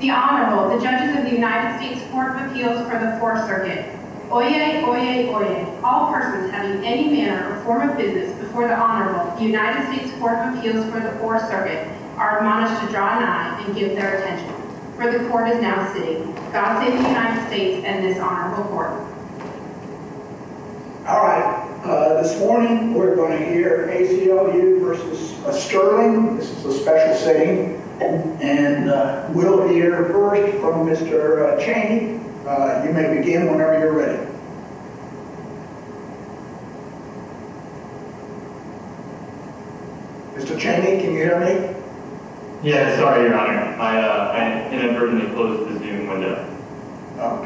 The Honorable, the Judges of the United States Court of Appeals for the 4th Circuit. Oyez, oyez, oyez. All persons having any manner or form of business before the Honorable, the United States Court of Appeals for the 4th Circuit, are admonished to draw an eye and give their attention. For the Court is now sitting. God save the United States and this Honorable Court. All right. This morning we're going to hear ACLU v. Stirling. This is a special sitting. And we'll hear first from Mr. Chaney. You may begin whenever you're ready. Mr. Chaney, can you hear me? Yeah, sorry, Your Honor. I inadvertently closed the Zoom window.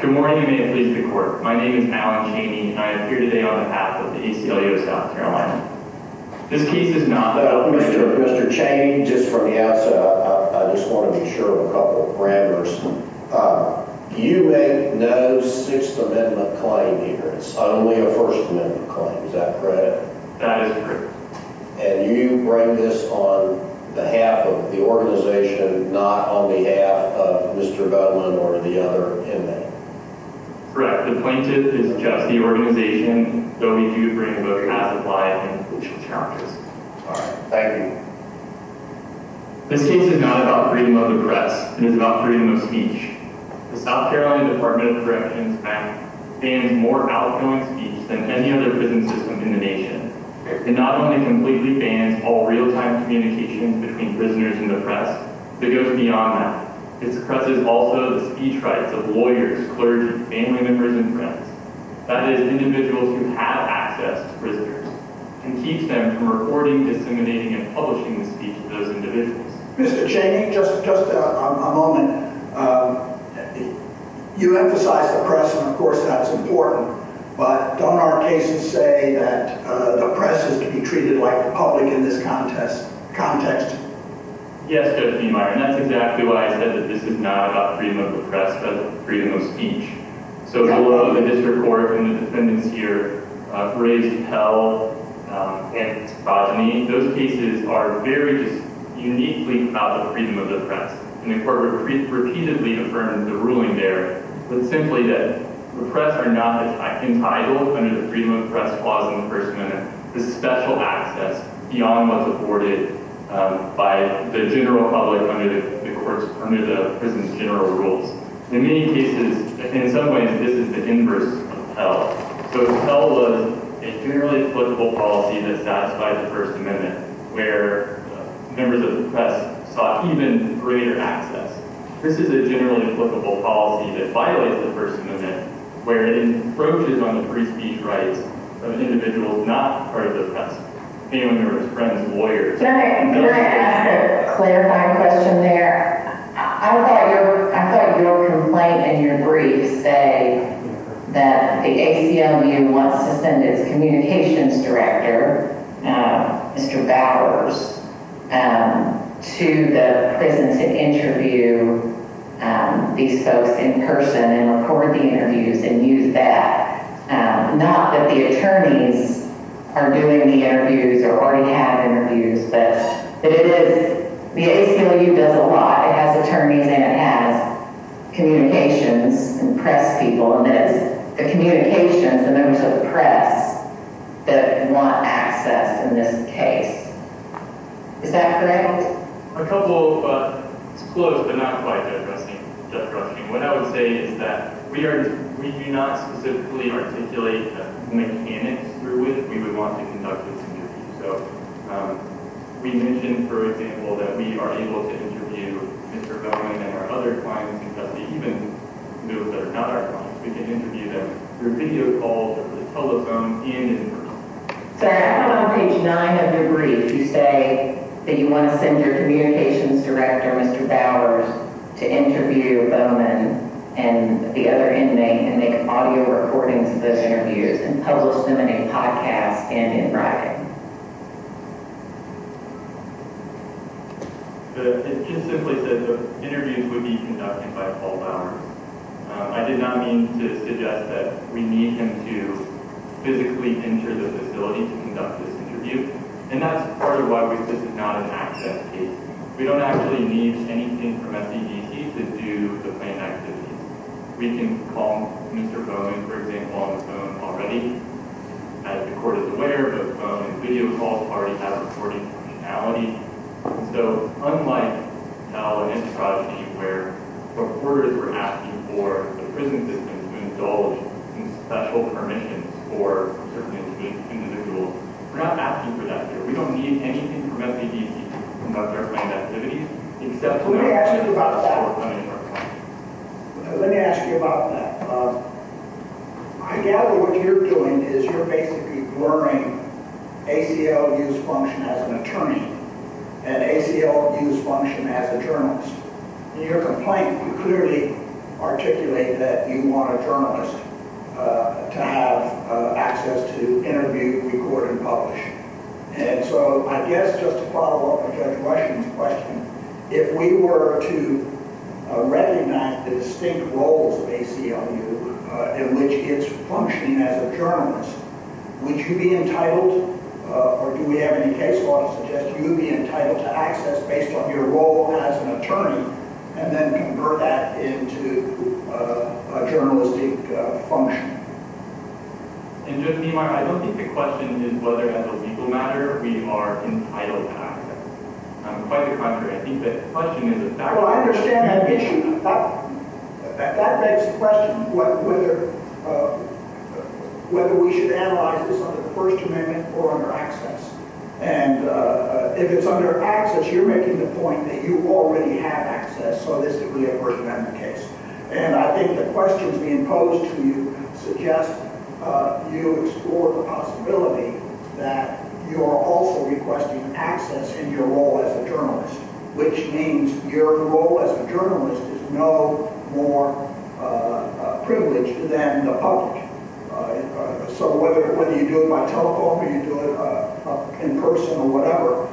Good morning, and may it please the Court. My name is Alan Chaney, and I am here today on behalf of the ACLU of South Carolina. This case is not the— Mr. Chaney, just from the outset, I just want to be sure of a couple of grammars. You make no Sixth Amendment claim here. It's only a First Amendment claim. Is that correct? That is correct. And you bring this on behalf of the organization, not on behalf of Mr. Bowen or the other inmate? Correct. The plaintiff is just the organization. Don't need you to bring both classified and official charges. All right. Thank you. This case is not about freedom of the press. It is about freedom of speech. The South Carolina Department of Corrections Act bans more outgoing speech than any other prison system in the nation. It not only completely bans all real-time communications between prisoners and the press, but goes beyond that. It suppresses also the speech rights of lawyers, clergy, family members, and friends—that is, individuals who have access to prisoners—and keeps them from recording, disseminating, and publishing the speech to those individuals. Mr. Chaney, just a moment. You emphasize the press, and of course that is important, but don't our cases say that the press is to be treated like the public in this context? Yes, Judge Niemeyer, and that is exactly why I said that this is not about freedom of the press, but freedom of speech. So the District Court and the defendants here, Graves, Pell, and Bojany, those cases are very uniquely about the freedom of the press. And the Court repeatedly affirmed the ruling there, but simply that the press are not entitled under the freedom of the press clause in the First Amendment to special access beyond what is afforded. by the general public under the prison's general rules. In many cases, in some ways, this is the inverse of Pell. So Pell was a generally applicable policy that satisfied the First Amendment, where members of the press sought even greater access. This is a generally applicable policy that violates the First Amendment, where it encroaches on the free speech rights of individuals not part of the press—family members, friends, and lawyers. Can I ask a clarifying question there? I thought your complaint in your brief say that the ACLU wants to send its communications director, Mr. Bowers, to the prison to interview these folks in person and record the interviews and use that, not that the attorneys are doing the interviews or already have interviews, but that it is—the ACLU does a lot. It has attorneys and it has communications and press people, and it's the communications, the members of the press, that want access in this case. Is that correct? A couple of—it's close, but not quite just rushing. What I would say is that we are—we do not specifically articulate the mechanics through which we would want to conduct this interview. So we mentioned, for example, that we are able to interview Mr. Bowers and our other clients in custody, even those that are not our clients. We can interview them through video calls over the telephone and in person. So I have it on page 9 of your brief. You say that you want to send your communications director, Mr. Bowers, to interview Bowman and the other inmate and make audio recordings of those interviews and publish them in a podcast and in writing. It just simply says the interviews would be conducted by Paul Bowers. I did not mean to suggest that we need him to physically enter the facility to conduct this interview, and that's part of why this is not an access case. We don't actually need anything from SEGC to do the plain activities. We can call Mr. Bowman, for example, on the phone already. As the Court is aware, both phone and video calls already have recording functionality. So unlike now in antiprogeny, where reporters were asking for the prison system to indulge in special permissions for certain individuals, we're not asking for that here. We don't need anything from SEGC to conduct our plain activities, except for our prison system. Let me ask you about that. I gather what you're doing is you're basically blurring ACLU's function as an attorney and ACLU's function as a journalist. In your complaint, you clearly articulate that you want a journalist to have access to interview, record, and publish. And so I guess just to follow up on Judge Washington's question, if we were to recognize the distinct roles of ACLU in which it's functioning as a journalist, would you be entitled, or do we have any case law that suggests you would be entitled to access based on your role as an attorney, and then convert that into a journalistic function? And, Judge Niemeyer, I don't think the question is whether as a legal matter we are entitled to access. I'm quite the contrary. I think the question is... Well, I understand that issue. That begs the question whether we should analyze this under the First Amendment or under access. And if it's under access, you're making the point that you already have access, so this is really a First Amendment case. And I think the questions being posed to you suggest you explore the possibility that you are also requesting access in your role as a journalist, which means your role as a journalist is no more privileged than the public. So whether you do it by telephone or you do it in person or whatever,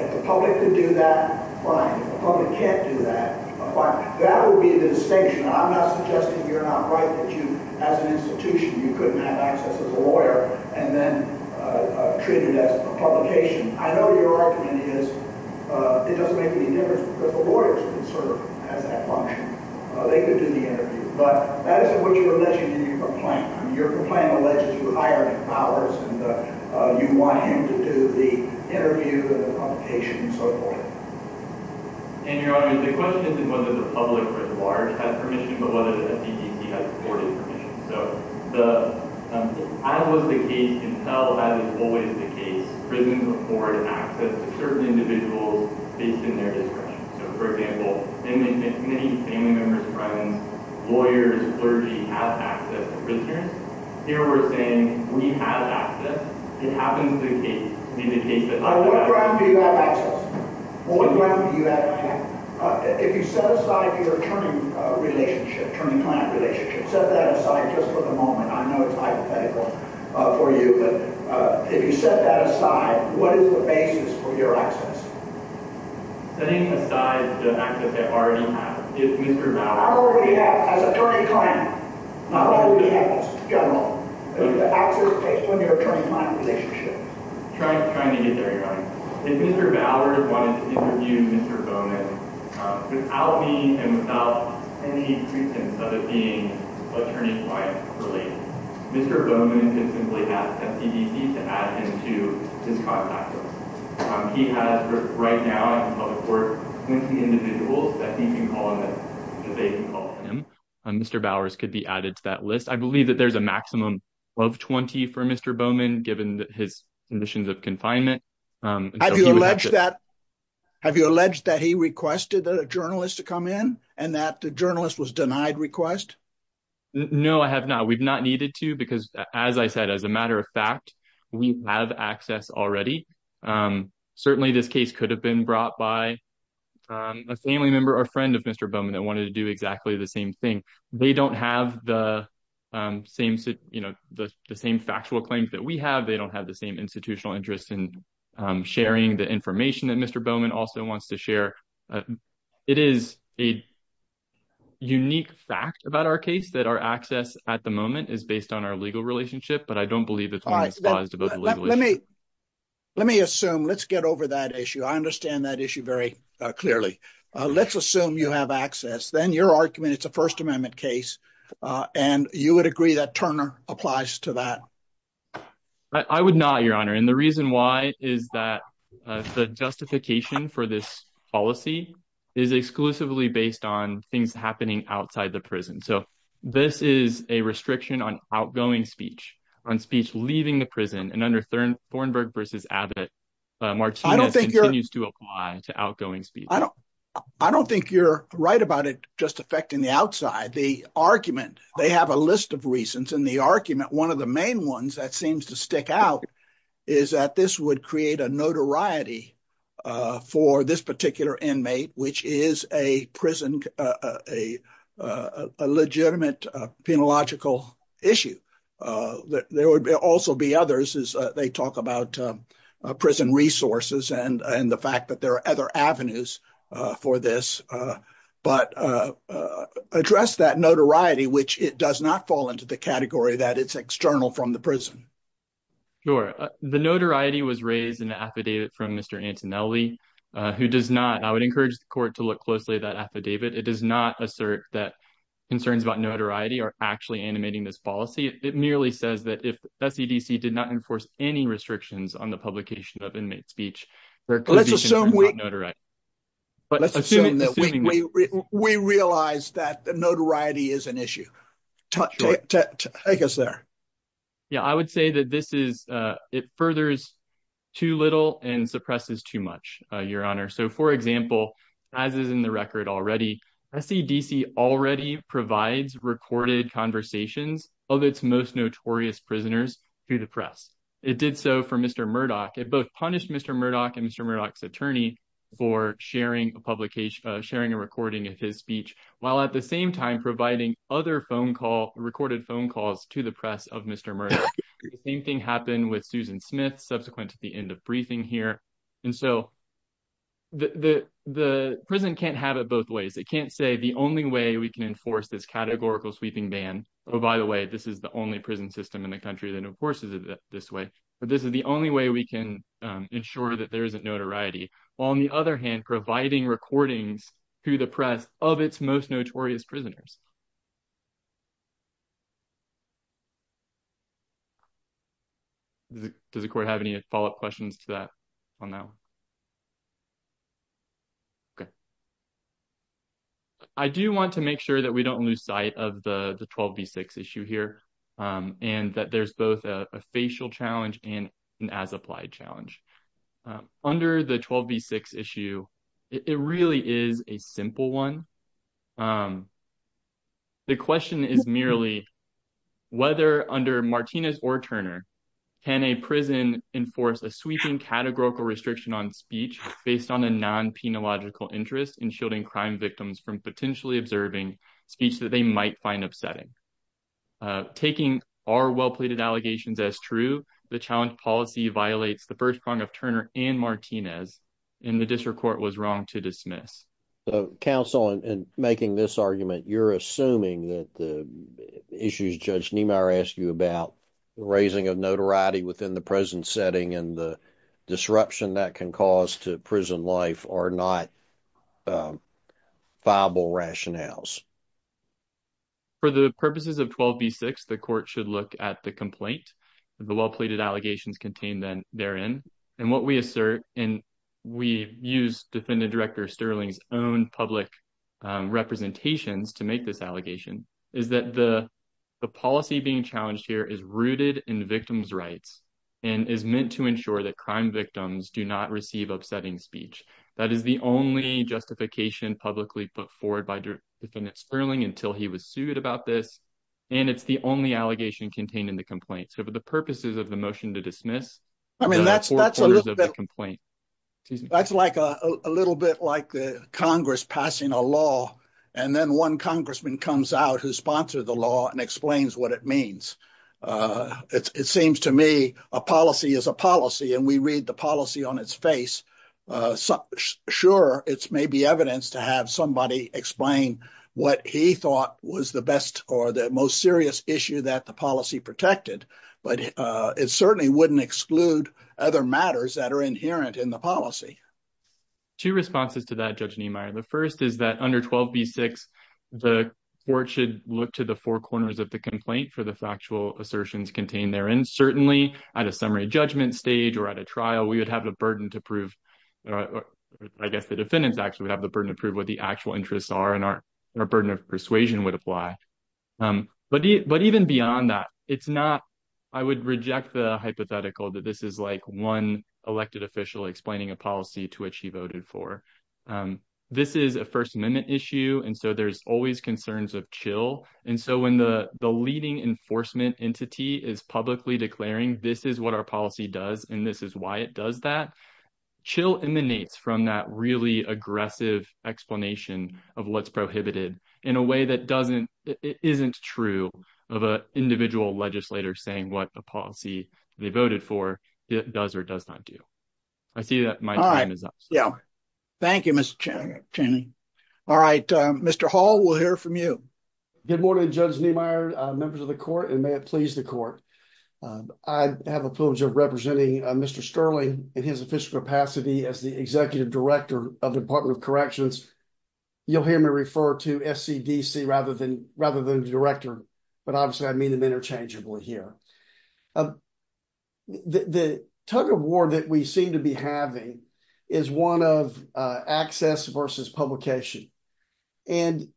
if the public could do that, fine. That would be the distinction. I'm not suggesting you're not right that you, as an institution, you couldn't have access as a lawyer and then treat it as a publication. I know your argument is it doesn't make any difference because the lawyers would serve as that function. They could do the interview. But that isn't what you were mentioning in your complaint. Your complaint alleges you hired a fowler and you want him to do the interview and the publication and so forth. And, Your Honor, the question isn't whether the public at large has permission but whether the CDC has supported permission. So as was the case until, as is always the case, prisons afford access to certain individuals based on their discretion. So, for example, many family members, friends, lawyers, clergy have access to prisoners. Here we're saying we have access. It happens to be the case that they have access. What ground do you have access? What ground do you have access? If you set aside your attorney relationship, attorney-client relationship, set that aside just for the moment. I know it's hypothetical for you. But if you set that aside, what is the basis for your access? Setting aside the access I already have. I already have, as attorney-client. I already have this, in general. The access to your attorney-client relationship. I'm trying to get there, Your Honor. If Mr. Ballard wanted to interview Mr. Bowman without me and without any pretense of it being attorney-client related, Mr. Bowman could simply ask the CDC to add him to his contact list. He has, right now, in public work, 20 individuals that he can call him and that they can call him. Mr. Bowers could be added to that list. I believe that there's a maximum of 20 for Mr. Bowman, given his conditions of confinement. Have you alleged that he requested a journalist to come in and that the journalist was denied request? No, I have not. We've not needed to. Because, as I said, as a matter of fact, we have access already. Certainly, this case could have been brought by a family member or friend of Mr. Bowman that wanted to do exactly the same thing. They don't have the same factual claims that we have. They don't have the same institutional interest in sharing the information that Mr. Bowman also wants to share. It is a unique fact about our case that our access, at the moment, is based on our legal relationship. But I don't believe it's one that's paused about the legal issue. Let me assume. Let's get over that issue. I understand that issue very clearly. Let's assume you have access. Then, your argument, it's a First Amendment case. And you would agree that Turner applies to that? I would not, Your Honor. And the reason why is that the justification for this policy is exclusively based on things happening outside the prison. So, this is a restriction on outgoing speech, on speech leaving the prison. And under Thornburg v. Abbott, Martinez continues to apply to outgoing speech. I don't think you're right about it just affecting the outside. The argument, they have a list of reasons. And the argument, one of the main ones that seems to stick out is that this would create a notoriety for this particular inmate, which is a prison, a legitimate, penological issue. There would also be others as they talk about prison resources and the fact that there are other avenues for this. But address that notoriety, which it does not fall into the category that it's external from the prison. Sure. The notoriety was raised in the affidavit from Mr. Antonelli, who does not. I would encourage the court to look closely at that affidavit. It does not assert that concerns about notoriety are actually animating this policy. It merely says that if the CDC did not enforce any restrictions on the publication of inmate speech. Let's assume we realize that the notoriety is an issue. Take us there. Yeah, I would say that this is it furthers too little and suppresses too much, Your Honor. So, for example, as is in the record already, CDC already provides recorded conversations of its most notorious prisoners to the press. It did so for Mr. Murdoch. It both punished Mr. Murdoch and Mr. Murdoch's attorney for sharing a publication, sharing a recording of his speech, while at the same time providing other phone call, recorded phone calls to the press of Mr. Murdoch. The same thing happened with Susan Smith subsequent to the end of briefing here. And so the prison can't have it both ways. It can't say the only way we can enforce this categorical sweeping ban. Oh, by the way, this is the only prison system in the country that enforces it this way. But this is the only way we can ensure that there isn't notoriety. On the other hand, providing recordings to the press of its most notorious prisoners. Does the court have any follow up questions to that on now? Okay. I do want to make sure that we don't lose sight of the 12 v6 issue here and that there's both a facial challenge and as applied challenge. Under the 12 v6 issue. It really is a simple one. The question is merely whether under Martinez or Turner can a prison enforce a sweeping categorical restriction on speech based on a non penological interest in shielding crime victims from potentially observing speech that they might find upsetting. Taking our well pleaded allegations as true. The challenge policy violates the first prong of Turner and Martinez in the district court was wrong to dismiss council and making this argument. You're assuming that the issues Judge Niemeyer asked you about raising of notoriety within the present setting and the disruption that can cause to prison life are not viable rationales. For the purposes of 12 v6, the court should look at the complaint. The well pleaded allegations contained then they're in. And what we assert, and we use defendant director Sterling's own public representations to make this allegation is that the, the policy being challenged here is rooted in victims rights. And is meant to ensure that crime victims do not receive upsetting speech. That is the only justification publicly put forward by defendants Sterling until he was sued about this. And it's the only allegation contained in the complaint. So, for the purposes of the motion to dismiss. I mean, that's that's a little bit complaint. That's like a little bit like the Congress passing a law, and then one congressman comes out who sponsored the law and explains what it means. It seems to me a policy is a policy and we read the policy on its face. Sure, it's maybe evidence to have somebody explain what he thought was the best or the most serious issue that the policy protected, but it certainly wouldn't exclude other matters that are inherent in the policy. Two responses to that, judge, the first is that under 12 v6, the court should look to the four corners of the complaint for the factual assertions contained there and certainly at a summary judgment stage or at a trial, we would have the burden to prove. I guess the defendants actually have the burden to prove what the actual interests are and our burden of persuasion would apply. But, but even beyond that, it's not, I would reject the hypothetical that this is like one elected official explaining a policy to which he voted for. This is a First Amendment issue. And so there's always concerns of chill. And so when the, the leading enforcement entity is publicly declaring this is what our policy does. And this is why it does that. Chill emanates from that really aggressive explanation of what's prohibited in a way that doesn't, it isn't true of a individual legislator saying what a policy they voted for it does or does not do. I see that my time is up. Yeah. Thank you, Mr. All right, Mr. Hall, we'll hear from you. Good morning, Judge Niemeyer, members of the court, and may it please the court. I have a privilege of representing Mr. Sterling in his official capacity as the executive director of Department of Corrections. You'll hear me refer to SCDC rather than rather than director, but obviously I mean them interchangeably here. The tug of war that we seem to be having is one of access versus publication. And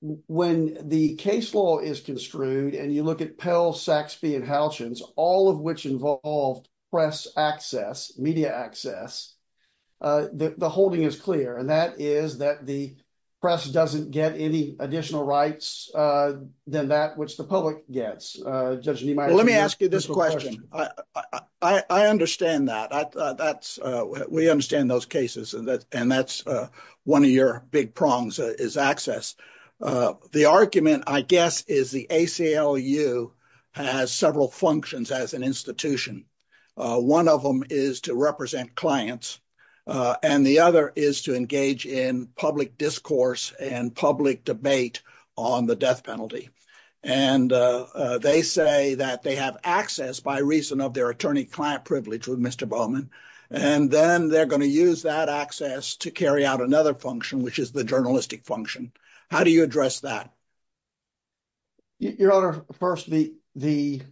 when the case law is construed and you look at Pell, Saxby, and Halchins, all of which involved press access, media access, the holding is clear, and that is that the press doesn't get any additional rights than that which the public gets. Judge Niemeyer. Let me ask you this question. I understand that. We understand those cases and that's one of your big prongs is access. The argument, I guess, is the ACLU has several functions as an institution. One of them is to represent clients and the other is to engage in public discourse and public debate on the death penalty. And they say that they have access by reason of their attorney client privilege with Mr. Bowman. And then they're going to use that access to carry out another function, which is the journalistic function. How do you address that? Your Honor, first, the the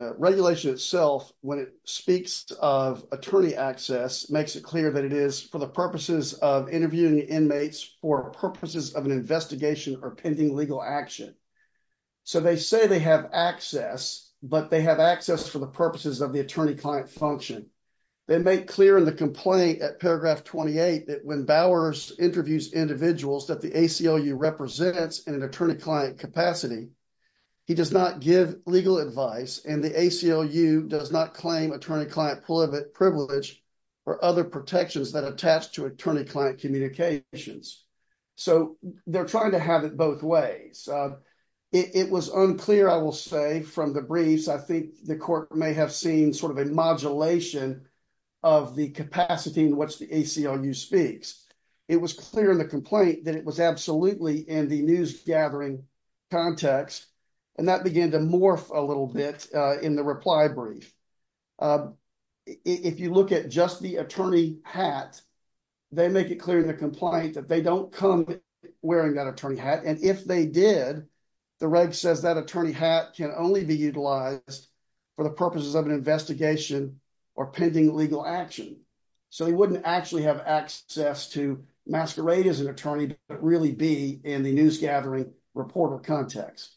regulation itself, when it speaks of attorney access, makes it clear that it is for the purposes of interviewing inmates for purposes of an investigation or pending legal action. So they say they have access, but they have access for the purposes of the attorney client function. They make clear in the complaint at paragraph 28 that when Bowers interviews individuals that the ACLU represents in an attorney client capacity, he does not give legal advice and the ACLU does not claim attorney client privilege or other protections that attach to attorney client communications. So they're trying to have it both ways. It was unclear, I will say, from the briefs, I think the court may have seen sort of a modulation of the capacity in which the ACLU speaks. It was clear in the complaint that it was absolutely in the news gathering context and that began to morph a little bit in the reply brief. If you look at just the attorney hat, they make it clear in the complaint that they don't come wearing that attorney hat. And if they did, the reg says that attorney hat can only be utilized for the purposes of an investigation or pending legal action. So they wouldn't actually have access to masquerade as an attorney, but really be in the news gathering reporter context.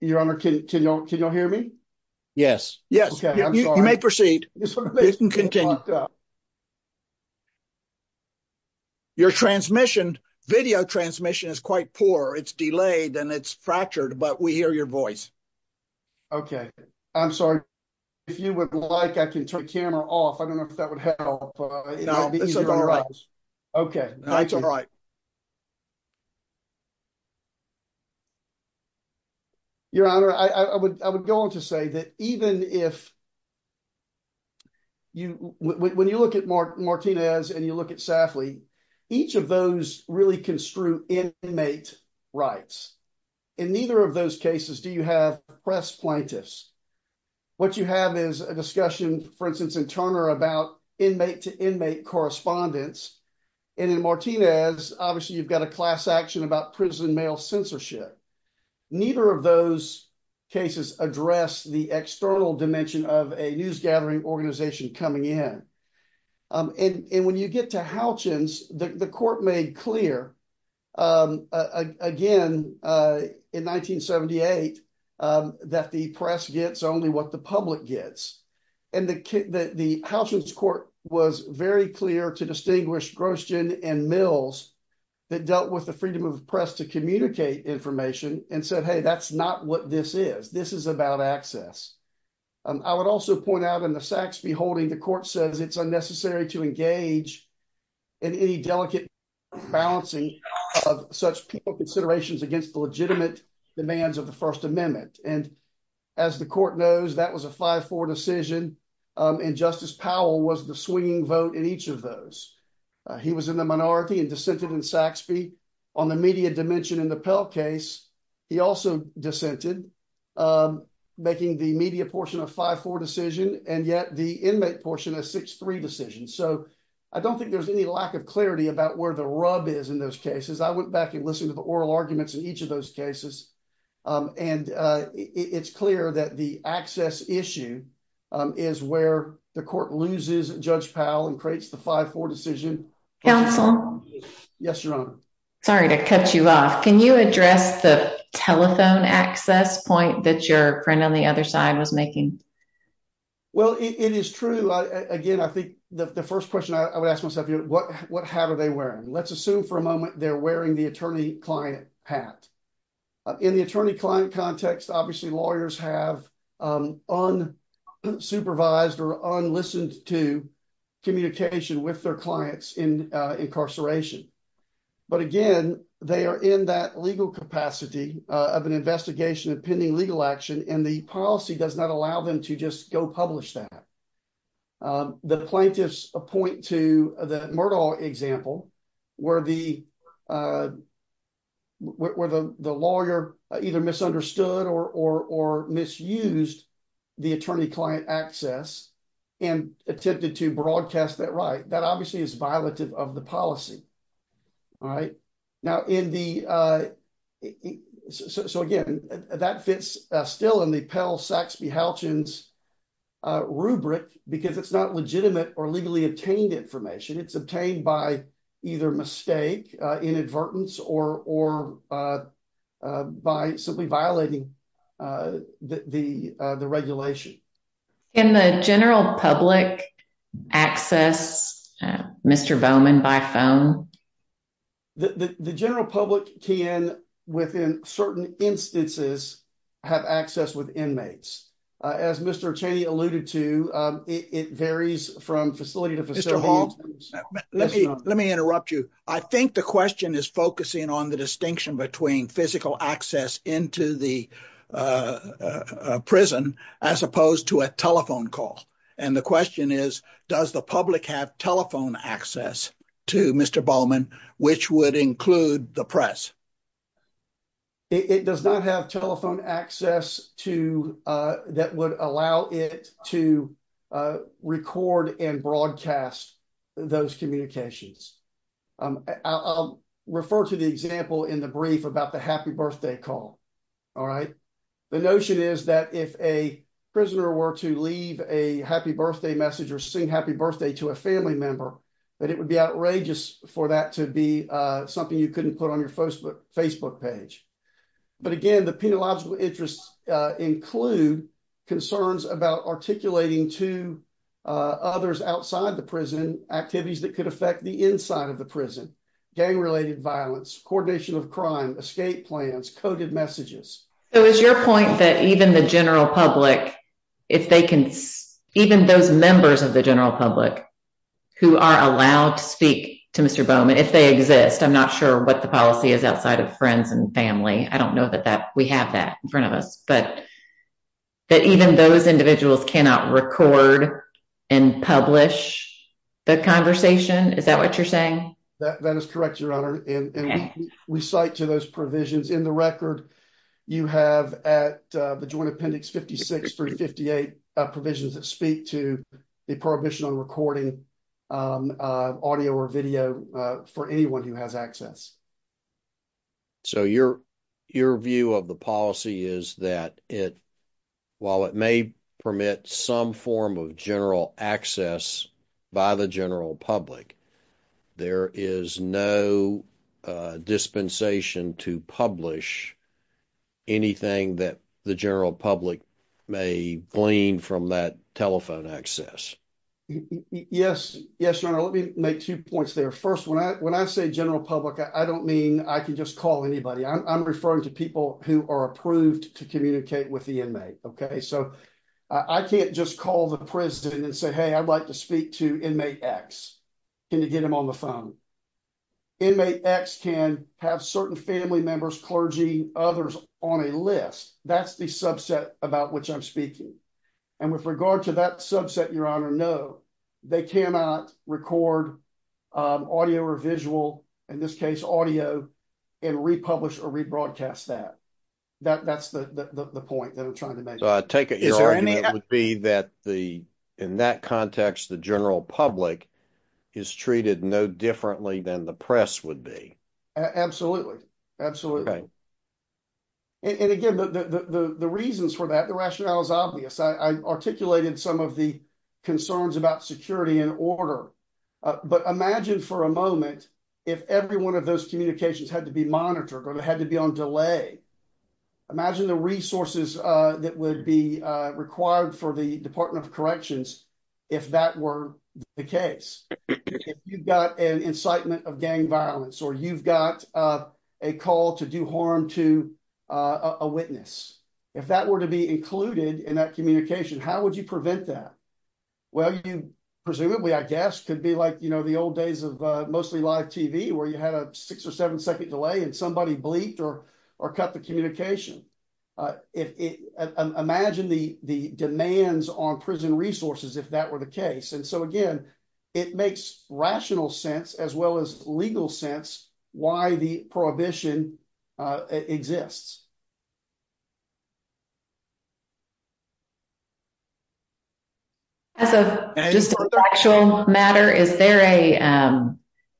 Your Honor, can y'all hear me? Yes. Yes. Okay. You may proceed. Your transmission video transmission is quite poor. It's delayed and it's fractured, but we hear your voice. Okay, I'm sorry. If you would like, I can turn camera off. I don't know if that would help. Okay. Your Honor, I would go on to say that even if when you look at Martinez and you look at Safley, each of those really construe inmate rights. In neither of those cases do you have press plaintiffs. What you have is a discussion, for instance, in Turner about inmate to inmate correspondence. And in Martinez, obviously you've got a class action about prison mail censorship. Neither of those cases address the external dimension of a news gathering organization coming in. And when you get to Halchins, the court made clear again in 1978 that the press gets only what the public gets. And the Halchins court was very clear to distinguish Grosjean and Mills that dealt with the freedom of press to communicate information and said, hey, that's not what this is. This is about access. I would also point out in the Saxby holding the court says it's unnecessary to engage in any delicate balancing of such people considerations against the legitimate demands of the First Amendment. And as the court knows that was a 5-4 decision. And Justice Powell was the swinging vote in each of those. He was in the minority and dissented in Saxby on the media dimension in the Pell case. He also dissented making the media portion of 5-4 decision. And yet the inmate portion of 6-3 decision. So I don't think there's any lack of clarity about where the rub is in those cases. I went back and listened to the oral arguments in each of those cases. And it's clear that the access issue is where the court loses Judge Powell and creates the 5-4 decision. Counsel. Yes, Your Honor. Sorry to cut you off. Can you address the telephone access point that your friend on the other side was making? Well, it is true. Again, I think the first question I would ask myself, what hat are they wearing? Let's assume for a moment they're wearing the attorney-client hat. In the attorney-client context, obviously lawyers have unsupervised or un-listened to communication with their clients in incarceration. But again, they are in that legal capacity of an investigation of pending legal action and the policy does not allow them to just go publish that. The plaintiffs point to the Murdoch example where the lawyer either misunderstood or misused the attorney-client access and attempted to broadcast that right. That obviously is violative of the policy. So again, that fits still in the Pell-Saxby-Halchins rubric because it's not legitimate or legally obtained information. It's obtained by either mistake, inadvertence, or by simply violating the regulation. Can the general public access Mr. Bowman by phone? The general public can, within certain instances, have access with inmates. As Mr. Cheney alluded to, it varies from facility to facility. Let me interrupt you. I think the question is focusing on the distinction between physical access into the prison as opposed to a telephone call. And the question is, does the public have telephone access to Mr. Bowman, which would include the press? It does not have telephone access that would allow it to record and broadcast those communications. I'll refer to the example in the brief about the happy birthday call. The notion is that if a prisoner were to leave a happy birthday message or sing happy birthday to a family member, that it would be outrageous for that to be something you couldn't put on your Facebook page. But again, the penological interests include concerns about articulating to others outside the prison activities that could affect the inside of the prison. Gang-related violence, coordination of crime, escape plans, coded messages. So is your point that even the general public, even those members of the general public who are allowed to speak to Mr. Bowman, if they exist, I'm not sure what the policy is outside of friends and family. I don't know that we have that in front of us. But even those individuals cannot record and publish the conversation? Is that what you're saying? That is correct, Your Honor. And we cite to those provisions in the record. You have at the Joint Appendix 56 through 58 provisions that speak to the prohibition on recording audio or video for anyone who has access. So your view of the policy is that while it may permit some form of general access by the general public, there is no dispensation to publish anything that the general public may glean from that telephone access? Yes, Your Honor. Let me make two points there. First, when I say general public, I don't mean I can just call anybody. I'm referring to people who are approved to communicate with the inmate. So I can't just call the prison and say, hey, I'd like to speak to inmate X. Can you get him on the phone? Inmate X can have certain family members, clergy, others on a list. That's the subset about which I'm speaking. And with regard to that subset, Your Honor, no, they cannot record audio or visual, in this case audio, and republish or rebroadcast that. That's the point that I'm trying to make. So I take it your argument would be that in that context, the general public is treated no differently than the press would be? Absolutely. Absolutely. And again, the reasons for that, the rationale is obvious. I articulated some of the concerns about security and order. But imagine for a moment, if every one of those communications had to be monitored or had to be on delay. Imagine the resources that would be required for the Department of Corrections if that were the case. If you've got an incitement of gang violence or you've got a call to do harm to a witness, if that were to be included in that communication, how would you prevent that? Well, you presumably, I guess, could be like the old days of mostly live TV where you had a six or seven second delay and somebody bleeped or cut the communication. Imagine the demands on prison resources if that were the case. And so again, it makes rational sense as well as legal sense why the prohibition exists. As a factual matter, is there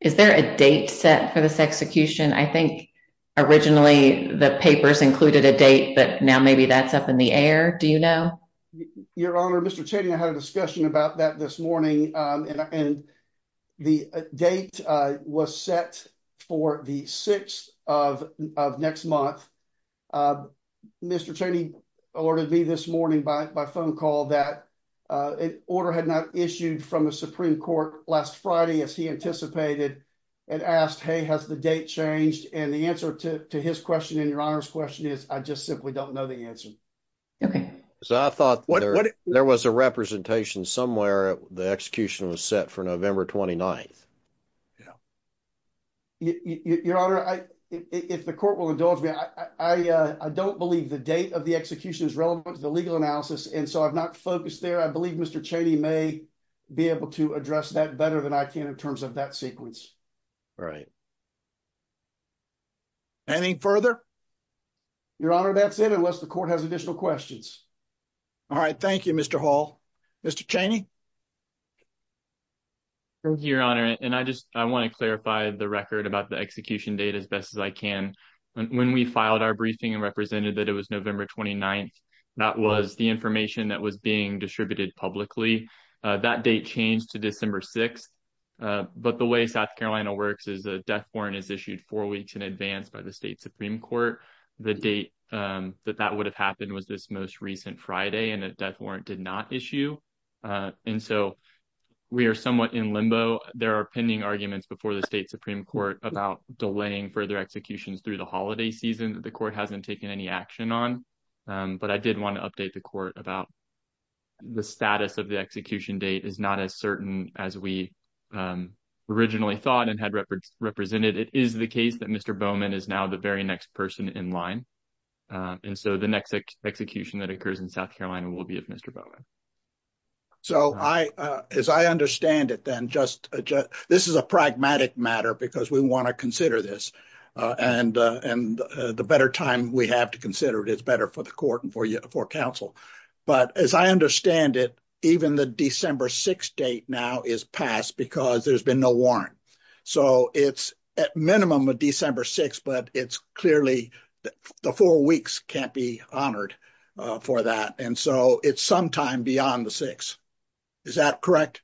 a date set for this execution? I think originally the papers included a date, but now maybe that's up in the air. Do you know? Your Honor, Mr. Cheney and I had a discussion about that this morning and the date was set for the 6th of next month. Mr. Cheney alerted me this morning by phone call that an order had not issued from the Supreme Court last Friday as he anticipated and asked, hey, has the date changed? And the answer to his question and Your Honor's question is I just simply don't know the answer. Okay, so I thought there was a representation somewhere the execution was set for November 29th. Your Honor, if the court will indulge me, I don't believe the date of the execution is relevant to the legal analysis and so I've not focused there. I believe Mr. Cheney may be able to address that better than I can in terms of that sequence. Right. Any further? Your Honor, that's it unless the court has additional questions. All right. Thank you, Mr. Hall. Mr. Cheney. Thank you, Your Honor, and I just I want to clarify the record about the execution date as best as I can. When we filed our briefing and represented that it was November 29th, that was the information that was being distributed publicly. That date changed to December 6th. But the way South Carolina works is a death warrant is issued four weeks in advance by the state Supreme Court. The date that that would have happened was this most recent Friday and a death warrant did not issue. And so we are somewhat in limbo. There are pending arguments before the state Supreme Court about delaying further executions through the holiday season. The court hasn't taken any action on, but I did want to update the court about the status of the execution date is not as certain as we originally thought and had represented. It is the case that Mr. Bowman is now the very next person in line. And so the next execution that occurs in South Carolina will be of Mr. Bowman. So I as I understand it, then just this is a pragmatic matter because we want to consider this and and the better time we have to consider it is better for the court and for you for counsel. But as I understand it, even the December 6 date now is passed because there's been no warrant. So it's at minimum of December 6, but it's clearly the four weeks can't be honored for that. And so it's sometime beyond the six. Is that correct?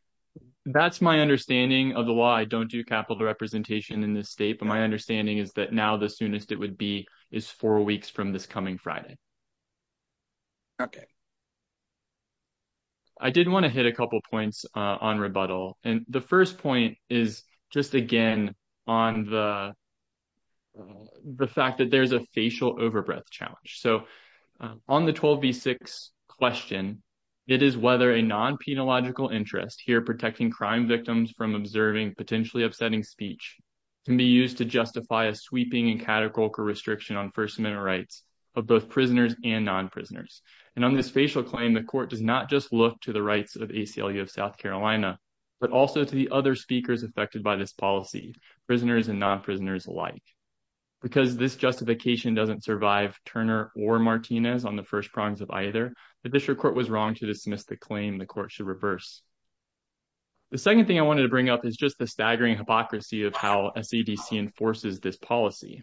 That's my understanding of the law. I don't do capital representation in this state, but my understanding is that now the soonest it would be is four weeks from this coming Friday. Okay. I didn't want to hit a couple points on rebuttal. And the first point is just again on the. The fact that there's a facial overbreath challenge. So on the 12 V6 question, it is whether a non-penal interest here protecting crime victims from observing potentially upsetting speech. Can be used to justify a sweeping and categorical restriction on First Amendment rights of both prisoners and non prisoners. And on this facial claim, the court does not just look to the rights of South Carolina, but also to the other speakers affected by this policy prisoners and non prisoners alike. Because this justification doesn't survive Turner or Martinez on the first prongs of either the district court was wrong to dismiss the claim the court should reverse. The second thing I wanted to bring up is just the staggering hypocrisy of how a CDC enforces this policy.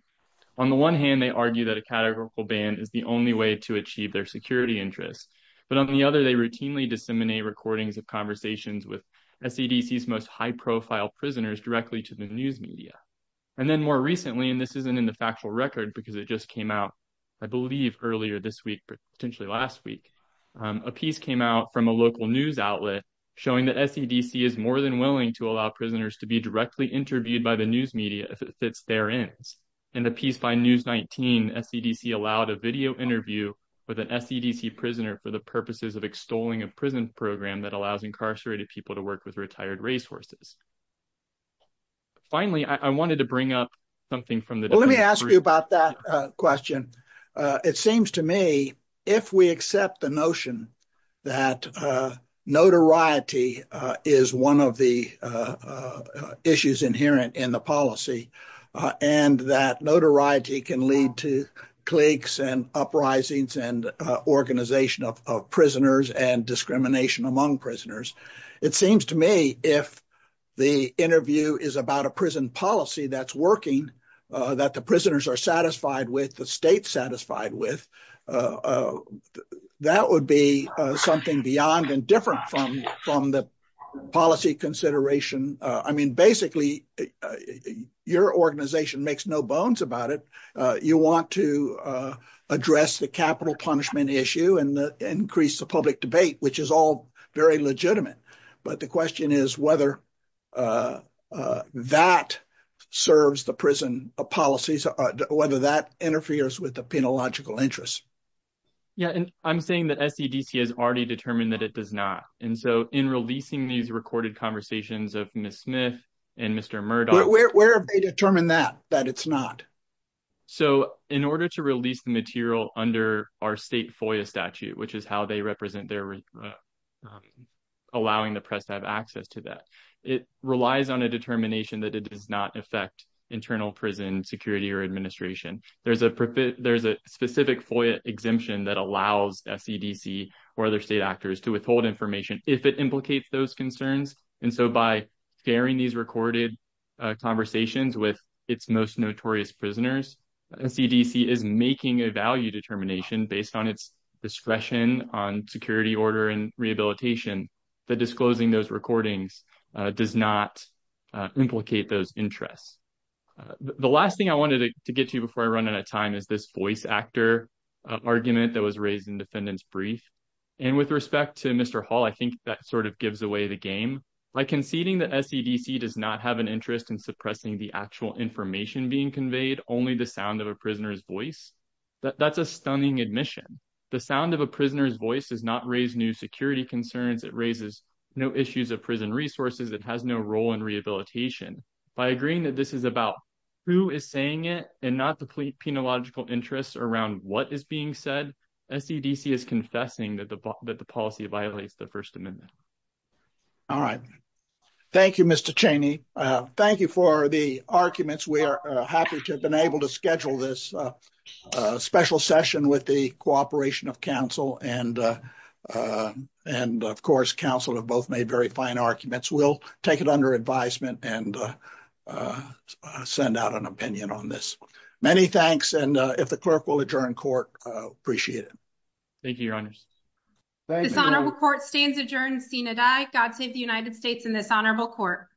On the one hand, they argue that a categorical ban is the only way to achieve their security interests. But on the other, they routinely disseminate recordings of conversations with CDC's most high profile prisoners directly to the news media. And then more recently, and this isn't in the factual record because it just came out. I believe earlier this week, potentially last week, a piece came out from a local news outlet showing the CDC is more than willing to allow prisoners to be directly interviewed by the news media if it fits their ends. And the piece by News 19 CDC allowed a video interview with an SEDC prisoner for the purposes of extolling a prison program that allows incarcerated people to work with retired racehorses. Finally, I wanted to bring up something from the let me ask you about that question. It seems to me if we accept the notion that notoriety is one of the issues inherent in the policy and that notoriety can lead to cliques and uprisings and organization of prisoners and discrimination among prisoners. It seems to me if the interview is about a prison policy that's working, that the prisoners are satisfied with, the state's satisfied with, that would be something beyond and different from the policy consideration. I mean, basically, your organization makes no bones about it. You want to address the capital punishment issue and increase the public debate, which is all very legitimate. But the question is whether that serves the prison policies, whether that interferes with the penalogical interests. Yeah, and I'm saying that SEDC has already determined that it does not. And so, in releasing these recorded conversations of Ms. Smith and Mr. Murdoch. Where have they determined that, that it's not? So, in order to release the material under our state FOIA statute, which is how they represent their allowing the press to have access to that, it relies on a determination that it does not affect internal prison security or administration. There's a specific FOIA exemption that allows SEDC or other state actors to withhold information if it implicates those concerns. And so, by sharing these recorded conversations with its most notorious prisoners, SEDC is making a value determination based on its discretion on security order and rehabilitation, that disclosing those recordings does not implicate those interests. The last thing I wanted to get to before I run out of time is this voice actor argument that was raised in defendant's brief. And with respect to Mr. Hall, I think that sort of gives away the game. By conceding that SEDC does not have an interest in suppressing the actual information being conveyed, only the sound of a prisoner's voice, that's a stunning admission. The sound of a prisoner's voice does not raise new security concerns. It raises no issues of prison resources. It has no role in rehabilitation. By agreeing that this is about who is saying it and not the penalogical interests around what is being said, SEDC is confessing that the policy violates the First Amendment. All right. Thank you, Mr. Cheney. Thank you for the arguments. We are happy to have been able to schedule this special session with the cooperation of counsel. And, of course, counsel have both made very fine arguments. We'll take it under advisement and send out an opinion on this. Many thanks, and if the clerk will adjourn court, appreciate it. Thank you, Your Honors. This honorable court stands adjourned. Seen and I. God save the United States and this honorable court.